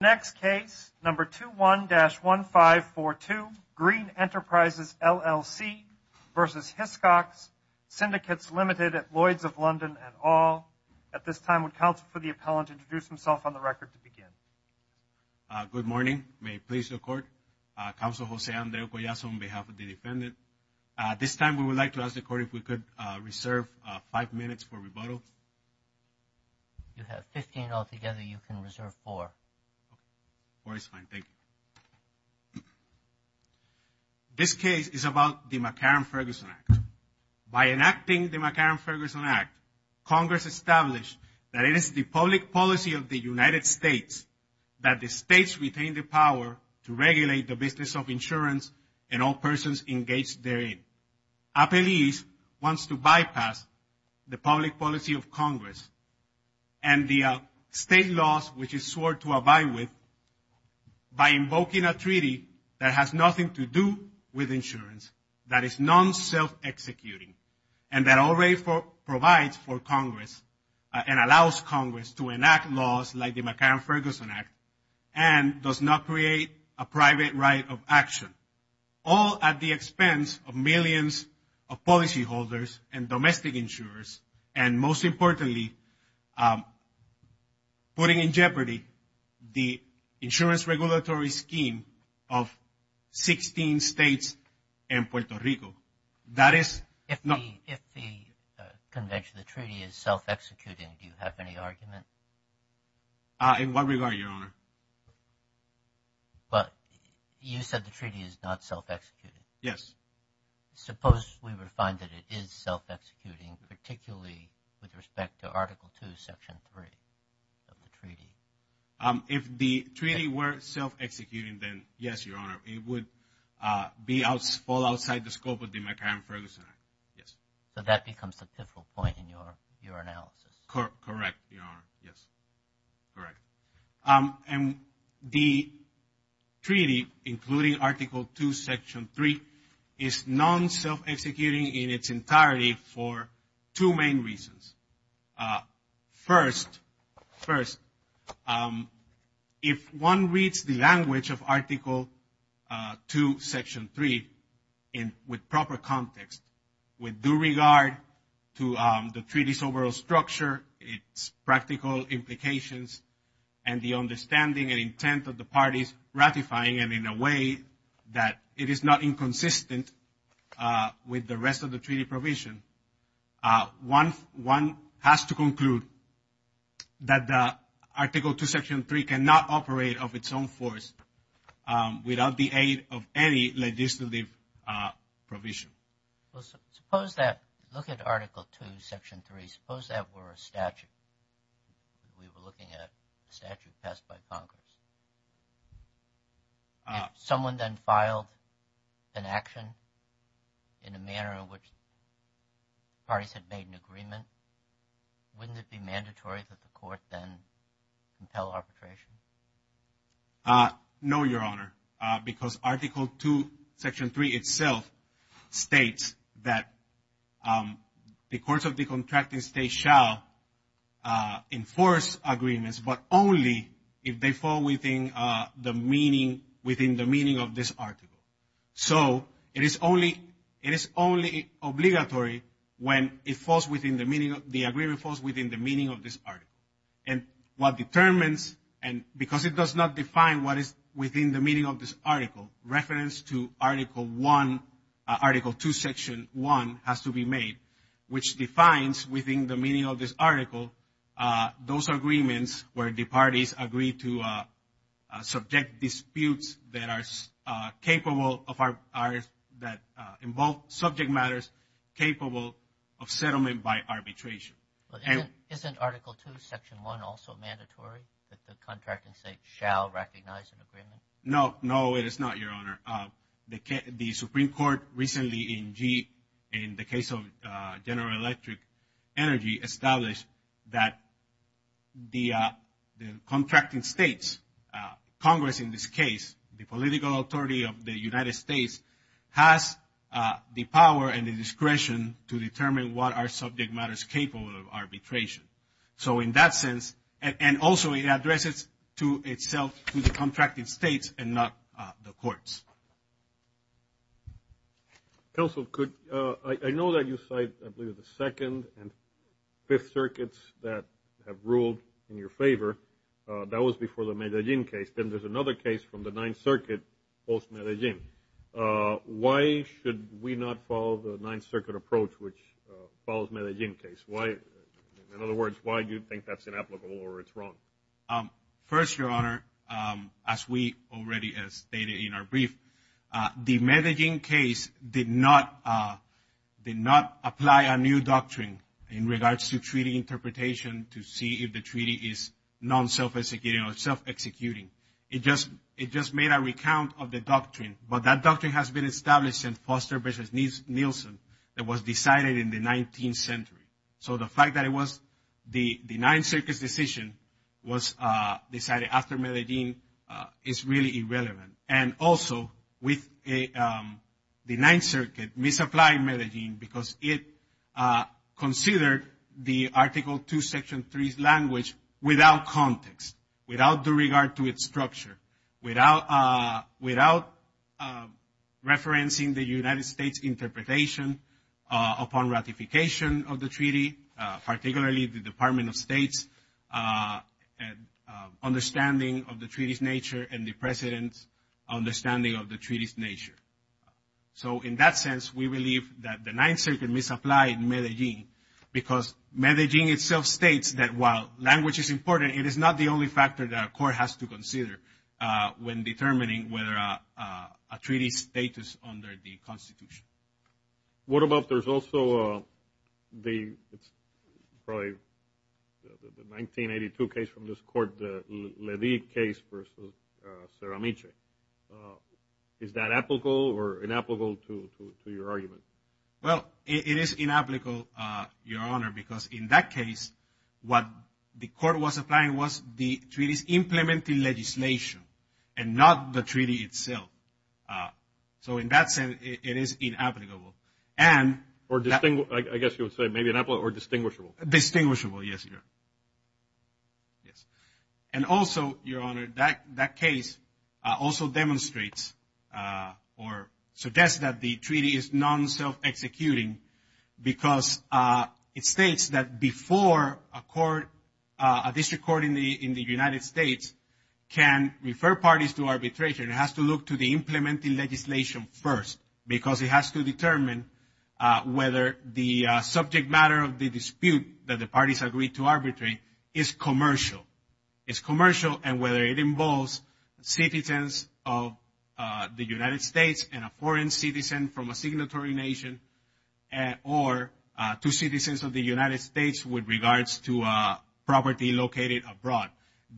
Next case, number 21-1542, Green Enterprises, LLC versus Hiscox Syndicates Limited at Lloyd's of London and all. At this time, would counsel for the appellant introduce himself on the record to begin. Good morning, may it please the court. Counsel Jose Andres Collazo on behalf of the defendant. At this time, we would like to ask the court if we could reserve five minutes for rebuttal. If you have 15 altogether, you can reserve four. Four is fine, thank you. This case is about the McCarran-Ferguson Act. By enacting the McCarran-Ferguson Act, Congress established that it is the public policy of the United States that the states retain the power to regulate the business of insurance and all persons engaged therein. Appellees wants to bypass the public policy of Congress and the state laws which it swore to abide with by invoking a treaty that has nothing to do with insurance, that is non-self-executing, and that already provides for Congress and allows Congress to enact laws like the McCarran-Ferguson Act and does not create a private right of action, all at the expense of millions of policyholders and domestic insurers, and most importantly, putting in jeopardy the insurance regulatory scheme of 16 states and Puerto Rico. If the convention, the treaty is self-executing, do you have any argument? In what regard, Your Honor? Well, you said the treaty is not self-executing. Yes. Suppose we would find that it is self-executing, particularly with respect to Article 2, Section 3 of the treaty. If the treaty were self-executing, then yes, Your Honor, it would fall outside the scope of the McCarran-Ferguson Act, yes. So that becomes the pivotal point in your analysis. Correct, Your Honor, yes, correct. And the treaty, including Article 2, Section 3, is non-self-executing in its entirety for two main reasons. First, if one reads the language of Article 2, Section 3 with proper context, with due regard to the treaty's overall structure, its practical implications, and the understanding and intent of the parties ratifying it in a way that it is not inconsistent with the rest of the treaty provision, one has to conclude that the Article 2, Section 3 cannot operate of its own force without the aid of any legislative provision. Well, suppose that, look at Article 2, Section 3, suppose that were a statute. We were looking at a statute passed by Congress. If someone then filed an action in a manner in which parties had made an agreement, wouldn't it be mandatory that the court then compel arbitration? No, Your Honor, because Article 2, Section 3 itself states that the courts of the contracting state shall enforce agreements, but only if they fall within the meaning of this article. So it is only obligatory when the agreement falls within the meaning of this article. And what determines, and because it does not define what is within the meaning of this article, reference to Article 2, Section 1 has to be made, which defines within the meaning of this article, those agreements where the parties agree to subject disputes that involve subject matters capable of settlement by arbitration. Isn't Article 2, Section 1 also mandatory that the contracting state shall recognize an agreement? No, no, it is not, Your Honor. The Supreme Court recently in the case of General Electric Energy established that the contracting states, Congress in this case, the political authority of the United States, has the power and the discretion to determine what are subject matters capable of arbitration. So in that sense, and also it addresses to itself the contracting states and not the courts. Counsel, I know that you cite, I believe, the Second and Fifth Circuits that have ruled in your favor. That was before the Medellin case. Then there's another case from the Ninth Circuit post-Medellin. Why should we not follow the Ninth Circuit approach which follows Medellin case? In other words, why do you think that's inapplicable or it's wrong? First, Your Honor, as we already stated in our brief, the Medellin case did not apply a new doctrine in regards to treaty interpretation to see if the treaty is non-self-executing or self-executing. It just made a recount of the doctrine. But that doctrine has been established since Foster v. Nielsen. It was decided in the 19th century. So the fact that it was the Ninth Circuit's decision was decided after Medellin is really irrelevant. And also with the Ninth Circuit misapplying Medellin because it considered the Article II, Section III's language without context, without due regard to its structure, without referencing the United States interpretation upon ratification of the treaty, particularly the Department of State's understanding of the treaty's nature and the President's understanding of the treaty's nature. So in that sense, we believe that the Ninth Circuit misapplied Medellin because Medellin itself states that while language is important, it is not the only factor that a court has to consider when determining whether a treaty's status under the Constitution. What about there's also the 1982 case from this Court, the Ledy case versus Ceramice? Is that applicable or inapplicable to your argument? Well, it is inapplicable, Your Honor, because in that case, what the Court was applying was the treaty's implementing legislation and not the treaty itself. So in that sense, it is inapplicable. Or I guess you would say maybe inapplicable or distinguishable. And also, Your Honor, that case also demonstrates or suggests that the treaty is non-self-executing because it states that before a court, a district court in the United States can refer parties to arbitration, it has to look to the implementing legislation first because it has to determine whether the subject matter of the dispute that the parties agreed to arbitrate is commercial. It's commercial and whether it involves citizens of the United States and a foreign citizen from a signatory nation or two citizens of the United States with regards to property located abroad.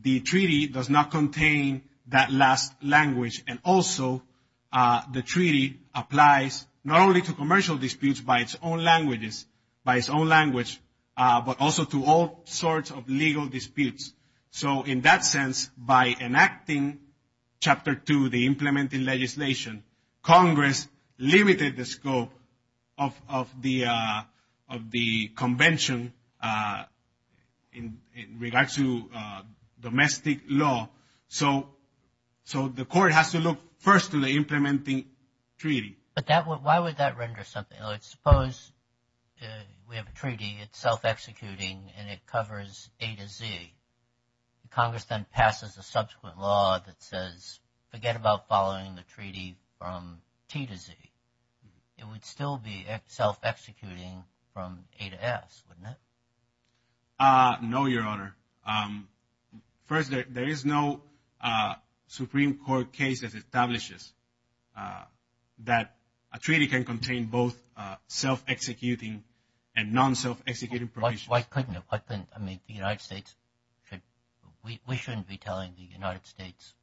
The treaty does not contain that last language. And also, the treaty applies not only to commercial disputes by its own languages, by its own language, but also to all sorts of legal disputes. So in that sense, by enacting Chapter 2, the implementing legislation, Congress limited the scope of the convention in regards to domestic law. So the court has to look first to the implementing treaty. But why would that render something? Suppose we have a treaty, it's self-executing, and it covers A to Z. Congress then passes a subsequent law that says forget about following the treaty from T to Z. It would still be self-executing from A to S, wouldn't it? No, Your Honor. First, there is no Supreme Court case that establishes that a treaty can contain both self-executing and non-self-executing provisions. Why couldn't it? I mean, the United States should – we shouldn't be telling the United States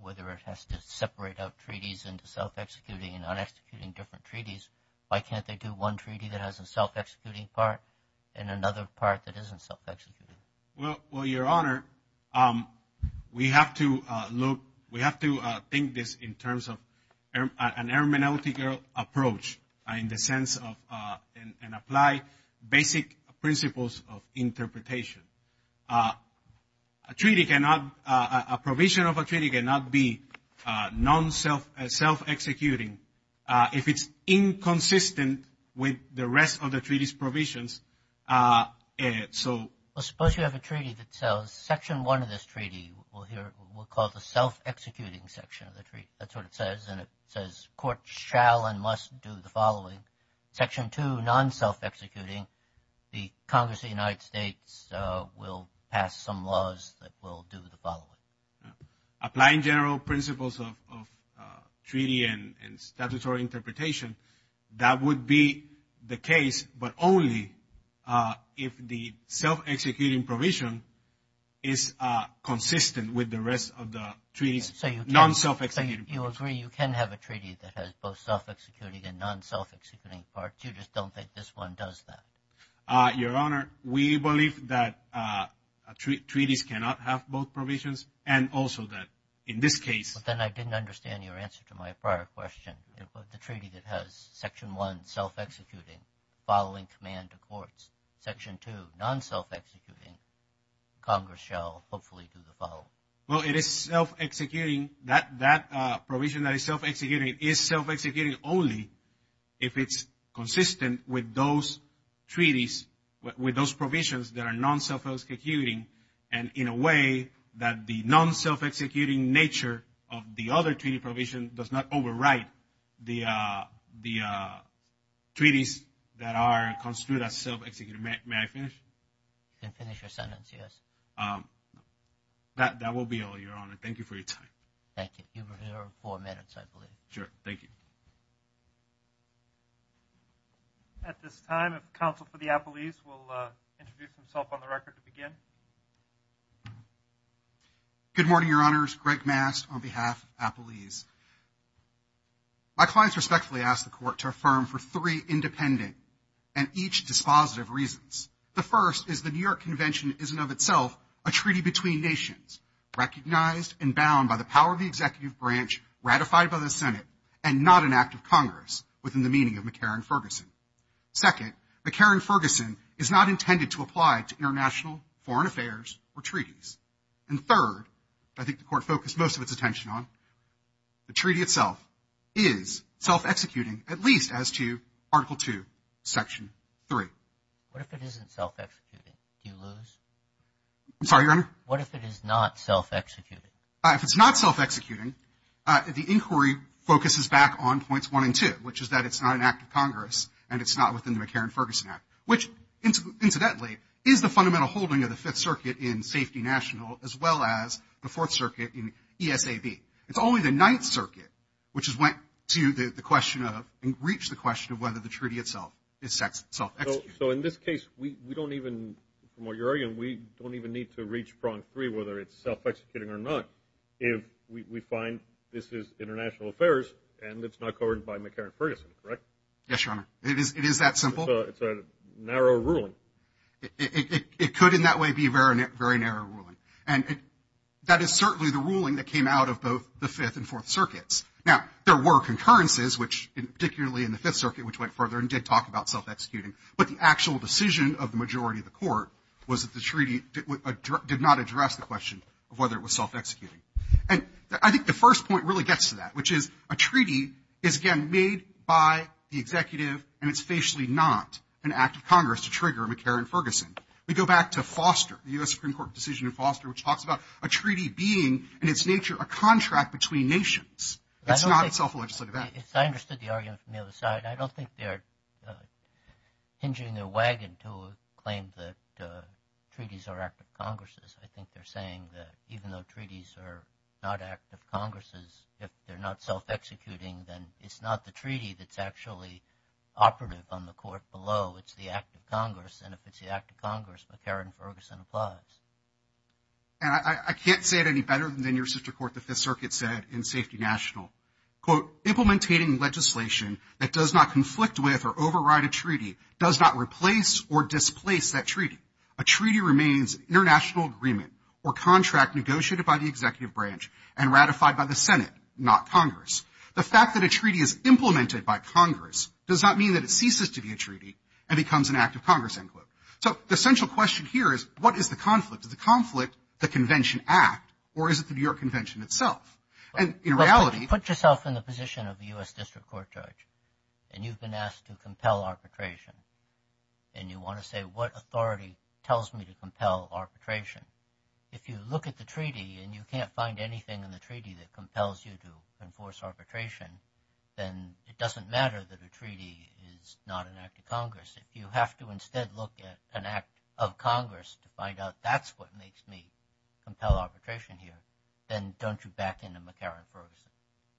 whether it has to separate out treaties into self-executing and non-executing different treaties. Why can't they do one treaty that has a self-executing part and another part that isn't self-executing? Well, Your Honor, we have to look – we have to think this in terms of an armamentality approach in the sense of and apply basic principles of interpretation. A treaty cannot – a provision of a treaty cannot be non-self-executing. If it's inconsistent with the rest of the treaty's provisions, so – Well, suppose you have a treaty that says section one of this treaty we'll call the self-executing section of the treaty. That's what it says, and it says courts shall and must do the following. Section two, non-self-executing, the Congress of the United States will pass some laws that will do the following. Apply in general principles of treaty and statutory interpretation. That would be the case, but only if the self-executing provision is consistent with the rest of the treaty's non-self-executing. So you agree you can have a treaty that has both self-executing and non-self-executing parts. You just don't think this one does that? Your Honor, we believe that treaties cannot have both provisions and also that in this case – But then I didn't understand your answer to my prior question. The treaty that has section one, self-executing, following command to courts. Section two, non-self-executing, Congress shall hopefully do the following. Well, it is self-executing. That provision that is self-executing is self-executing only if it's consistent with those treaties, with those provisions that are non-self-executing and in a way that the non-self-executing nature of the other treaty provision does not overwrite the treaties that are construed as self-executing. May I finish? You can finish your sentence, yes. That will be all, Your Honor. Thank you for your time. Thank you. You have four minutes, I believe. Sure. Thank you. At this time, a counsel for the appellees will introduce himself on the record to begin. Good morning, Your Honors. Greg Mast on behalf of appellees. My clients respectfully ask the court to affirm for three independent and each dispositive reasons. The first is the New York Convention is in and of itself a treaty between nations, recognized and bound by the power of the executive branch ratified by the Senate and not an act of Congress within the meaning of McCarran-Ferguson. Second, McCarran-Ferguson is not intended to apply to international foreign affairs or treaties. And third, I think the court focused most of its attention on, the treaty itself is self-executing, at least as to Article II, Section 3. What if it isn't self-executing? Do you lose? I'm sorry, Your Honor? What if it is not self-executing? If it's not self-executing, the inquiry focuses back on points one and two, which is that it's not an act of Congress and it's not within the McCarran-Ferguson Act, which incidentally is the fundamental holding of the Fifth Circuit in safety national as well as the Fourth Circuit in ESAB. It's only the Ninth Circuit which has went to the question of and reached the question of whether the treaty itself is self-executing. So in this case, we don't even, from what you're arguing, we don't even need to reach prong three, whether it's self-executing or not, if we find this is international affairs and it's not covered by McCarran-Ferguson, correct? Yes, Your Honor. It is that simple? It's a narrow ruling. It could in that way be a very narrow ruling. And that is certainly the ruling that came out of both the Fifth and Fourth Circuits. Now, there were concurrences, particularly in the Fifth Circuit, which went further and did talk about self-executing. But the actual decision of the majority of the court was that the treaty did not address the question of whether it was self-executing. And I think the first point really gets to that, which is a treaty is, again, made by the executive, and it's facially not an act of Congress to trigger McCarran-Ferguson. We go back to Foster, the U.S. Supreme Court decision in Foster, which talks about a treaty being in its nature a contract between nations. It's not itself a legislative act. I understood the argument from the other side. I don't think they're hinging their wagon to claim that treaties are act of Congresses. I think they're saying that even though treaties are not act of Congresses, if they're not self-executing, then it's not the treaty that's actually operative on the court below. It's the act of Congress. And if it's the act of Congress, McCarran-Ferguson applies. And I can't say it any better than your sister court, the Fifth Circuit, said in Safety National, quote, Implementing legislation that does not conflict with or override a treaty does not replace or displace that treaty. A treaty remains an international agreement or contract negotiated by the executive branch and ratified by the Senate, not Congress. The fact that a treaty is implemented by Congress does not mean that it ceases to be a treaty and becomes an act of Congress, end quote. So the central question here is, what is the conflict? Is the conflict the Convention Act, or is it the New York Convention itself? And in reality... But put yourself in the position of a U.S. District Court judge, and you've been asked to compel arbitration, and you want to say, What authority tells me to compel arbitration? If you look at the treaty and you can't find anything in the treaty that compels you to enforce arbitration, then it doesn't matter that a treaty is not an act of Congress. If you have to instead look at an act of Congress to find out that's what makes me compel arbitration here, then don't you back into McCarran-Ferguson?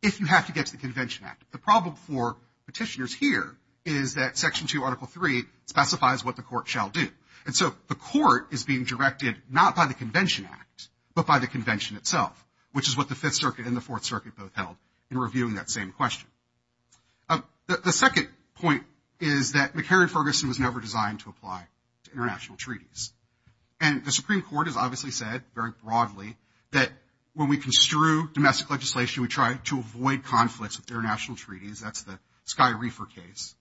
If you have to get to the Convention Act. The problem for petitioners here is that Section 2, Article 3 specifies what the Court shall do. And so the Court is being directed not by the Convention Act, but by the Convention itself, which is what the Fifth Circuit and the Fourth Circuit both held in reviewing that same question. The second point is that McCarran-Ferguson was never designed to apply to international treaties. And the Supreme Court has obviously said very broadly that when we construe domestic legislation, we try to avoid conflicts with international treaties. That's the Sky Reefer case.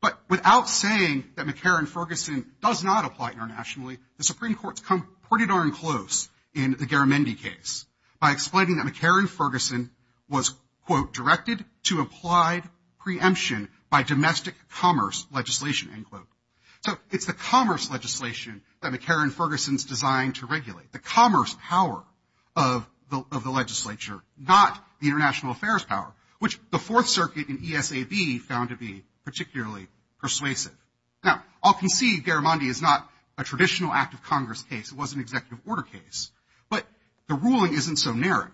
But without saying that McCarran-Ferguson does not apply internationally, the Supreme Court's come pretty darn close in the Garamendi case by explaining that McCarran-Ferguson was, quote, directed to applied preemption by domestic commerce legislation, end quote. So it's the commerce legislation that McCarran-Ferguson's designed to regulate, the commerce power of the legislature, not the international affairs power, which the Fourth Circuit and ESAB found to be particularly persuasive. Now, I'll concede Garamendi is not a traditional act of Congress case. It was an executive order case. But the ruling isn't so narrow.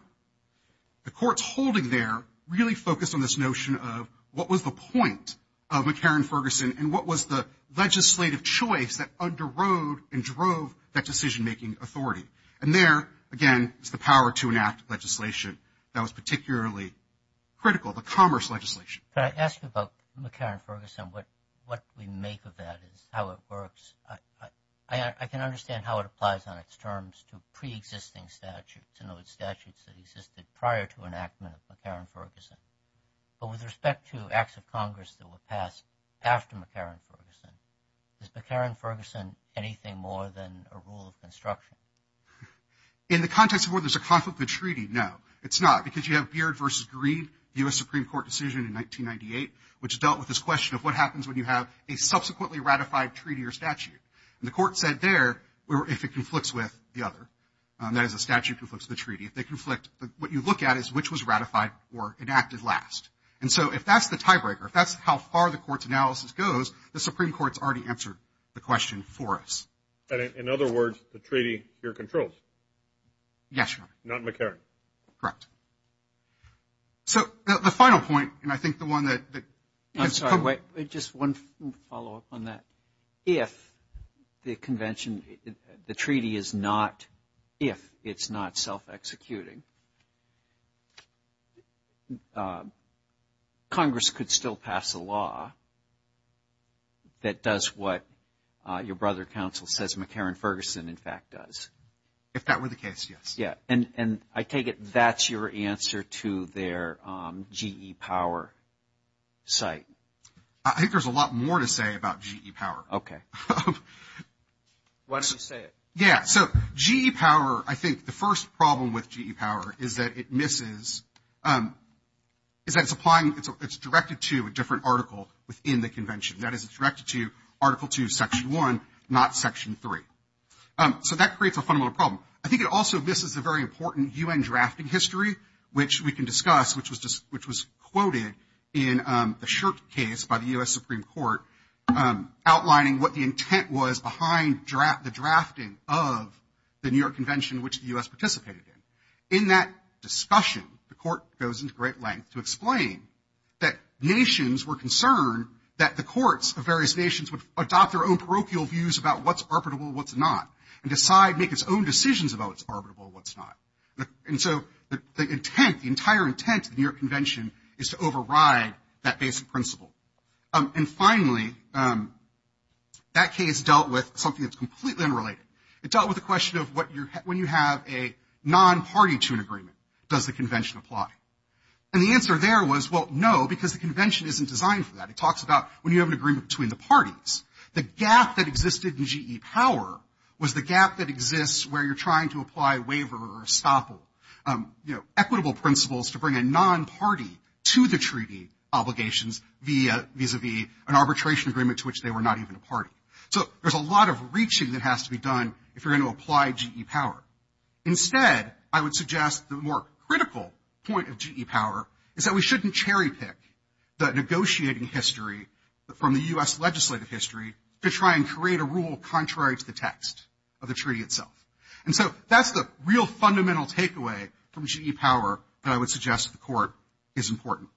The court's holding there really focused on this notion of what was the point of McCarran-Ferguson and what was the legislative choice that underrode and drove that decision-making authority. And there, again, is the power to enact legislation that was particularly critical, the commerce legislation. Can I ask you about McCarran-Ferguson, what we make of that, how it works? I can understand how it applies on its terms to preexisting statutes and other statutes that existed prior to enactment of McCarran-Ferguson. But with respect to acts of Congress that were passed after McCarran-Ferguson, is McCarran-Ferguson anything more than a rule of construction? In the context of where there's a conflict of the treaty, no, it's not, because you have Beard v. Greed, the U.S. Supreme Court decision in 1998, which dealt with this question of what happens when you have a subsequently ratified treaty or statute. And the court said there, if it conflicts with the other, that is, the statute conflicts with the treaty, if they conflict, what you look at is which was ratified or enacted last. And so if that's the tiebreaker, if that's how far the court's analysis goes, the Supreme Court's already answered the question for us. In other words, the treaty you're controlling. Yes, Your Honor. Not McCarran. Correct. So the final point, and I think the one that – I'm sorry, just one follow-up on that. If the convention – the treaty is not – if it's not self-executing, Congress could still pass a law that does what your brother counsel says McCarran-Ferguson, in fact, does. If that were the case, yes. Yeah. And I take it that's your answer to their GE Power site. I think there's a lot more to say about GE Power. Okay. Why don't you say it? Yeah. So GE Power, I think the first problem with GE Power is that it misses – is that it's applying – it's directed to a different article within the convention. That is, it's directed to Article 2, Section 1, not Section 3. So that creates a fundamental problem. I think it also misses a very important U.N. drafting history, which we can discuss, which was quoted in the Shirk case by the U.S. Supreme Court, outlining what the intent was behind the drafting of the New York Convention, which the U.S. participated in. In that discussion, the Court goes into great length to explain that nations were concerned that the courts of various nations would adopt their own parochial views about what's arbitrable, what's not, and decide – make its own decisions about what's arbitrable, what's not. And so the intent, the entire intent of the New York Convention is to override that basic principle. And finally, that case dealt with something that's completely unrelated. It dealt with the question of when you have a non-party to an agreement, does the convention apply? And the answer there was, well, no, because the convention isn't designed for that. It talks about when you have an agreement between the parties. The gap that existed in GE Power was the gap that exists where you're trying to apply waiver or estoppel, you know, equitable principles to bring a non-party to the treaty obligations vis-a-vis an arbitration agreement to which they were not even a party. So there's a lot of reaching that has to be done if you're going to apply GE Power. Instead, I would suggest the more critical point of GE Power is that we shouldn't cherry-pick the negotiating history from the U.S. legislative history to try and create a rule contrary to the text of the treaty itself. And so that's the real fundamental takeaway from GE Power that I would suggest to the Court is important.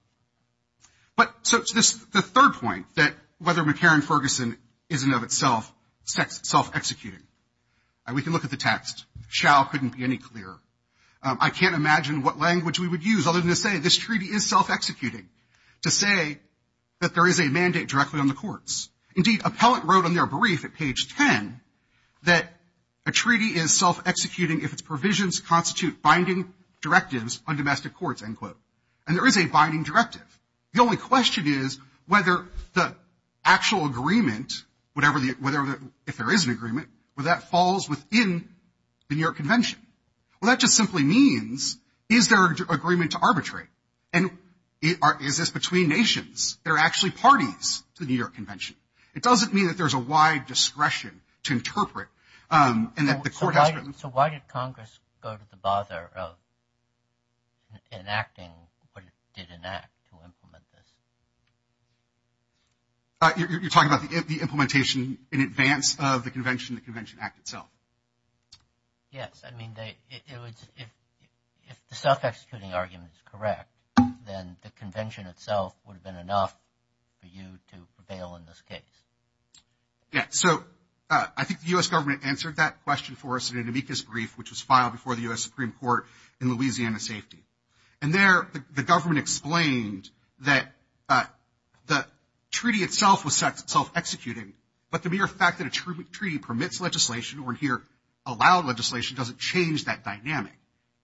But so the third point, that whether McCarran-Ferguson is in and of itself self-executing, we can look at the text, shall couldn't be any clearer. I can't imagine what language we would use other than to say this treaty is self-executing. To say that there is a mandate directly on the courts. Indeed, appellate wrote on their brief at page 10 that a treaty is self-executing if its provisions constitute binding directives on domestic courts, end quote. And there is a binding directive. The only question is whether the actual agreement, if there is an agreement, whether that falls within the New York Convention. Well, that just simply means is there agreement to arbitrate? And is this between nations? There are actually parties to the New York Convention. It doesn't mean that there's a wide discretion to interpret. So why did Congress go to the bother of enacting what it did enact to implement this? You're talking about the implementation in advance of the convention, the Convention Act itself? Yes. I mean, if the self-executing argument is correct, then the convention itself would have been enough for you to prevail in this case. So I think the U.S. government answered that question for us in an amicus brief, which was filed before the U.S. Supreme Court in Louisiana safety. And there the government explained that the treaty itself was self-executing, but the mere fact that a treaty permits legislation or here allowed legislation doesn't change that dynamic.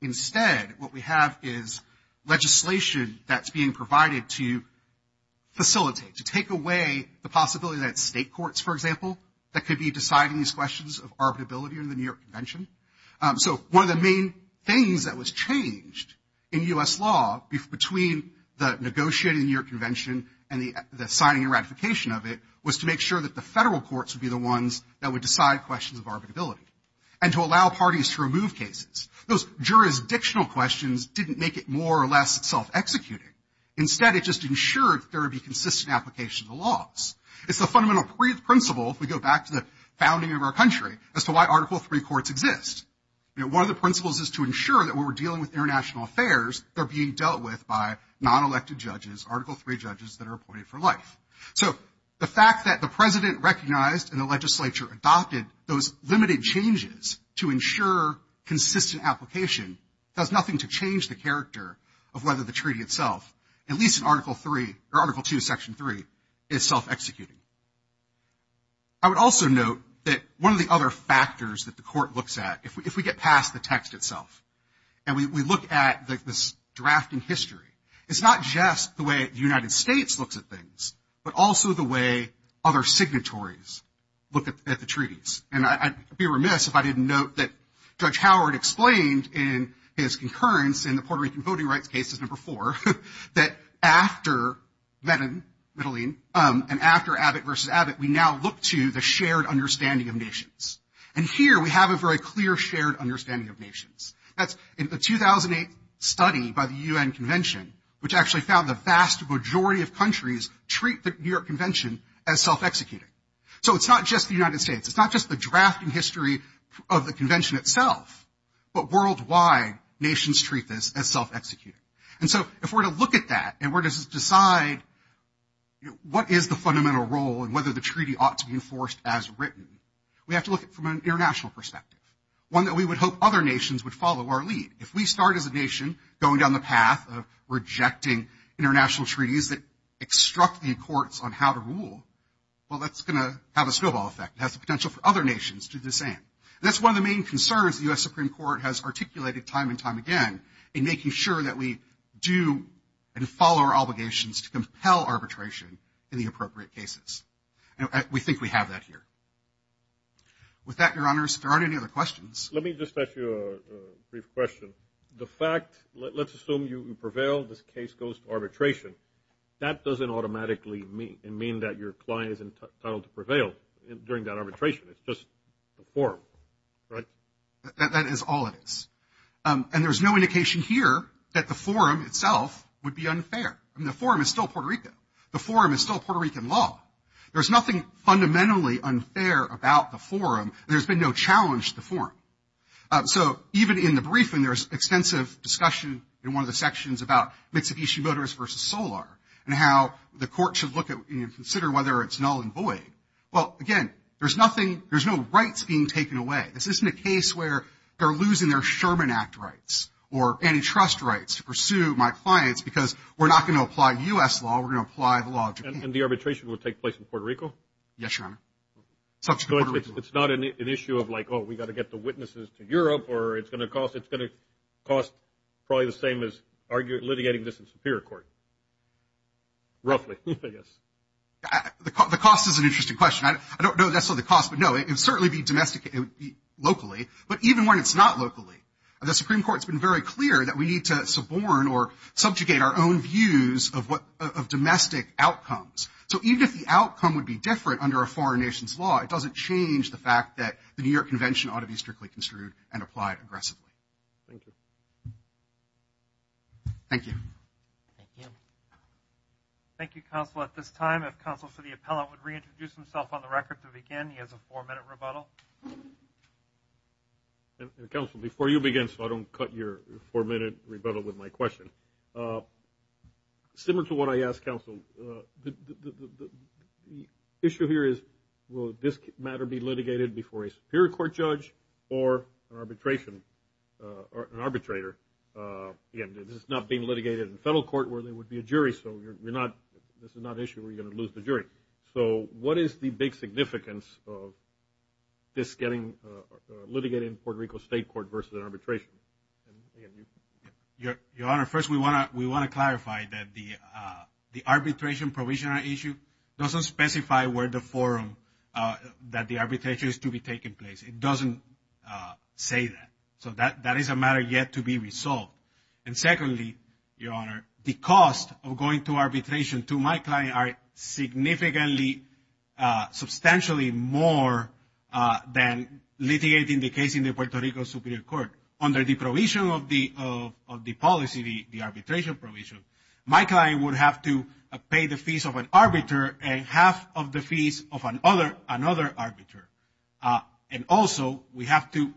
Instead, what we have is legislation that's being provided to facilitate, to take away the possibility that state courts, for example, that could be deciding these questions of arbitrability in the New York Convention. So one of the main things that was changed in U.S. law between the negotiating of the New York Convention and the signing and ratification of it was to make sure that the federal courts would be the ones that would decide questions of arbitrability and to allow parties to remove cases. Those jurisdictional questions didn't make it more or less self-executing. Instead, it just ensured that there would be consistent application of the laws. It's the fundamental principle, if we go back to the founding of our country, as to why Article III courts exist. One of the principles is to ensure that when we're dealing with international affairs, they're being dealt with by non-elected judges, Article III judges that are appointed for life. So the fact that the president recognized and the legislature adopted those limited changes to ensure consistent application does nothing to change the character of whether the treaty itself, at least in Article II, Section 3, is self-executing. I would also note that one of the other factors that the court looks at, if we get past the text itself and we look at this drafting history, it's not just the way the United States looks at things, but also the way other signatories look at the treaties. And I'd be remiss if I didn't note that Judge Howard explained in his concurrence in the Puerto Rican Voting Rights Cases, Number 4, that after Medellin and after Abbott v. Abbott, we now look to the shared understanding of nations. That's a 2008 study by the U.N. Convention, which actually found the vast majority of countries treat the New York Convention as self-executing. So it's not just the United States. It's not just the drafting history of the convention itself, but worldwide nations treat this as self-executing. And so if we're to look at that and we're to decide what is the fundamental role and whether the treaty ought to be enforced as written, we have to look at it from an international perspective, one that we would hope other nations would follow our lead. If we start as a nation going down the path of rejecting international treaties that obstruct the courts on how to rule, well, that's going to have a snowball effect. It has the potential for other nations to do the same. And that's one of the main concerns the U.S. Supreme Court has articulated time and time again in making sure that we do and follow our obligations to compel arbitration in the appropriate cases. And we think we have that here. With that, Your Honors, if there aren't any other questions. Let me just ask you a brief question. The fact, let's assume you prevail, this case goes to arbitration. That doesn't automatically mean that your client is entitled to prevail during that arbitration. It's just the forum, right? That is all it is. And there's no indication here that the forum itself would be unfair. I mean, the forum is still Puerto Rico. The forum is still Puerto Rican law. There's nothing fundamentally unfair about the forum. There's been no challenge to the forum. So even in the briefing, there's extensive discussion in one of the sections about Mitsubishi Motors versus Solar and how the court should look at and consider whether it's null and void. Well, again, there's nothing, there's no rights being taken away. This isn't a case where they're losing their Sherman Act rights or antitrust rights to pursue my clients because we're not going to apply U.S. law, we're going to apply the law of Japan. And the arbitration will take place in Puerto Rico? Yes, Your Honor. It's not an issue of like, oh, we've got to get the witnesses to Europe or it's going to cost, it's going to cost probably the same as litigating this in superior court, roughly, I guess. The cost is an interesting question. I don't know necessarily the cost, but no, it would certainly be domesticated locally. But even when it's not locally, the Supreme Court has been very clear that we need to suborn or subjugate our own views of domestic outcomes. So even if the outcome would be different under a foreign nation's law, it doesn't change the fact that the New York Convention ought to be strictly construed and applied aggressively. Thank you. Thank you. Thank you. Thank you, counsel. At this time, if counsel for the appellate would reintroduce himself on the record to begin, he has a four-minute rebuttal. Counsel, before you begin, so I don't cut your four-minute rebuttal with my question, similar to what I asked counsel, the issue here is, will this matter be litigated before a superior court judge or an arbitrator? Again, this is not being litigated in federal court where there would be a jury, so this is not an issue where you're going to lose the jury. So what is the big significance of this getting litigated in Puerto Rico State Court versus an arbitration? Your Honor, first we want to clarify that the arbitration provisional issue doesn't specify where the forum that the arbitration is to be taking place. It doesn't say that. So that is a matter yet to be resolved. And secondly, Your Honor, the cost of going to arbitration to my client are significantly, substantially more than litigating the case in the Puerto Rico Superior Court. Under the provision of the policy, the arbitration provision, my client would have to pay the fees of an arbiter and half of the fees of another arbiter. And also, we have to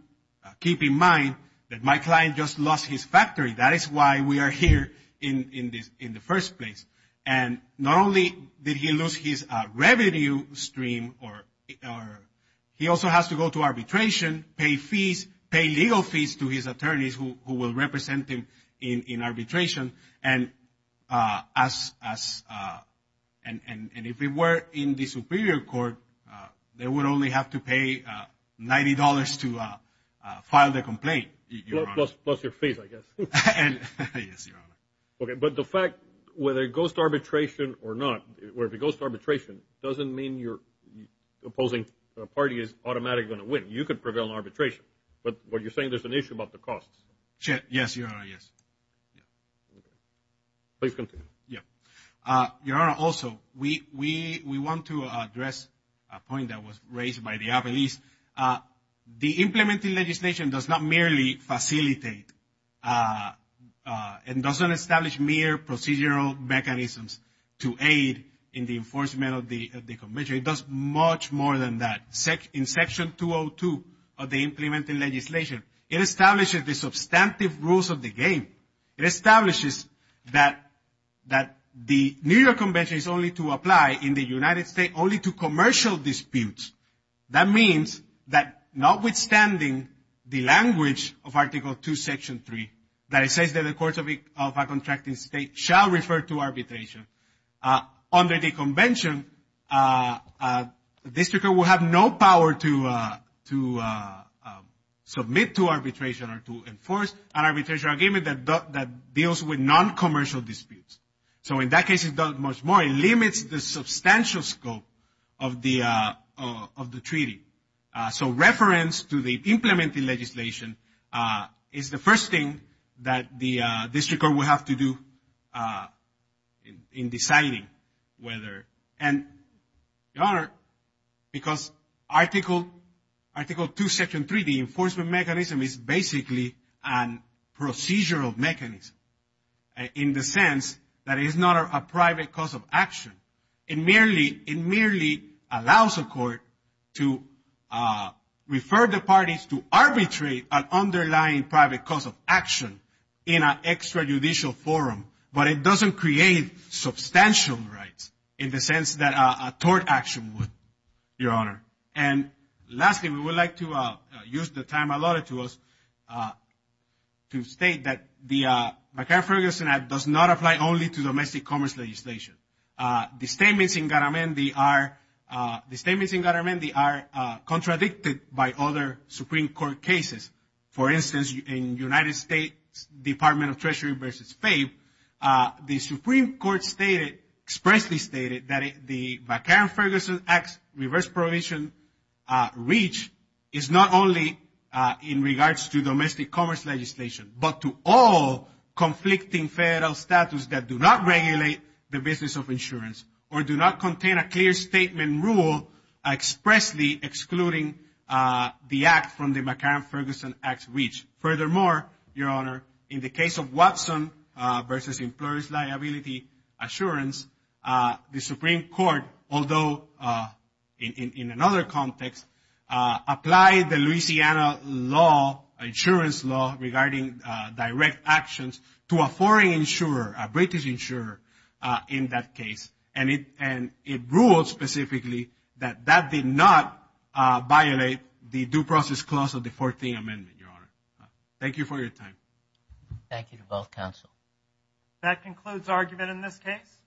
keep in mind that my client just lost his factory. That is why we are here in the first place. And not only did he lose his revenue stream, he also has to go to arbitration, pay fees, pay legal fees to his attorneys who will represent him in arbitration. And if he were in the Superior Court, they would only have to pay $90 to file the complaint, Your Honor. Plus your fees, I guess. Yes, Your Honor. Okay, but the fact whether it goes to arbitration or not, or if it goes to arbitration doesn't mean your opposing party is automatically going to win. You could prevail in arbitration. But what you're saying, there's an issue about the costs. Yes, Your Honor, yes. Please continue. Yes. Your Honor, also, we want to address a point that was raised by the appellees. The implementing legislation does not merely facilitate and doesn't establish mere procedural mechanisms to aid in the enforcement of the convention. It does much more than that. In Section 202 of the implementing legislation, it establishes the substantive rules of the game. It establishes that the New York Convention is only to apply in the United States only to commercial disputes. That means that notwithstanding the language of Article 2, Section 3, that it says that the courts of a contracting state shall refer to arbitration, under the convention, the district court will have no power to submit to arbitration or to enforce an arbitration argument that deals with non-commercial disputes. So in that case, it does much more. It limits the substantial scope of the treaty. So reference to the implementing legislation is the first thing that the district court will have to do in deciding whether. And, Your Honor, because Article 2, Section 3, the enforcement mechanism, is basically a procedural mechanism in the sense that it is not a private cause of action. It merely allows a court to refer the parties to arbitrate an underlying private cause of action in an extrajudicial forum, but it doesn't create substantial rights in the sense that a tort action would, Your Honor. And lastly, we would like to use the time allotted to us to state that the McCain-Ferguson Act does not apply only to domestic commerce legislation. The statements in Garamendi are contradicted by other Supreme Court cases. For instance, in United States Department of Treasury v. FAFE, the Supreme Court expressly stated that the McCain-Ferguson Act's reverse provision reach is not only in regards to domestic commerce legislation, but to all conflicting federal statutes that do not regulate the business of insurance or do not contain a clear statement rule expressly excluding the act from the McCain-Ferguson Act's reach. Furthermore, Your Honor, in the case of Watson v. Employers' Liability Assurance, the Supreme Court, although in another context, applied the Louisiana law, insurance law, regarding direct actions to a foreign insurer, a British insurer in that case, and it ruled specifically that that did not violate the due process clause of the 14th Amendment, Your Honor. Thank you for your time. Thank you to both counsel. That concludes argument in this case.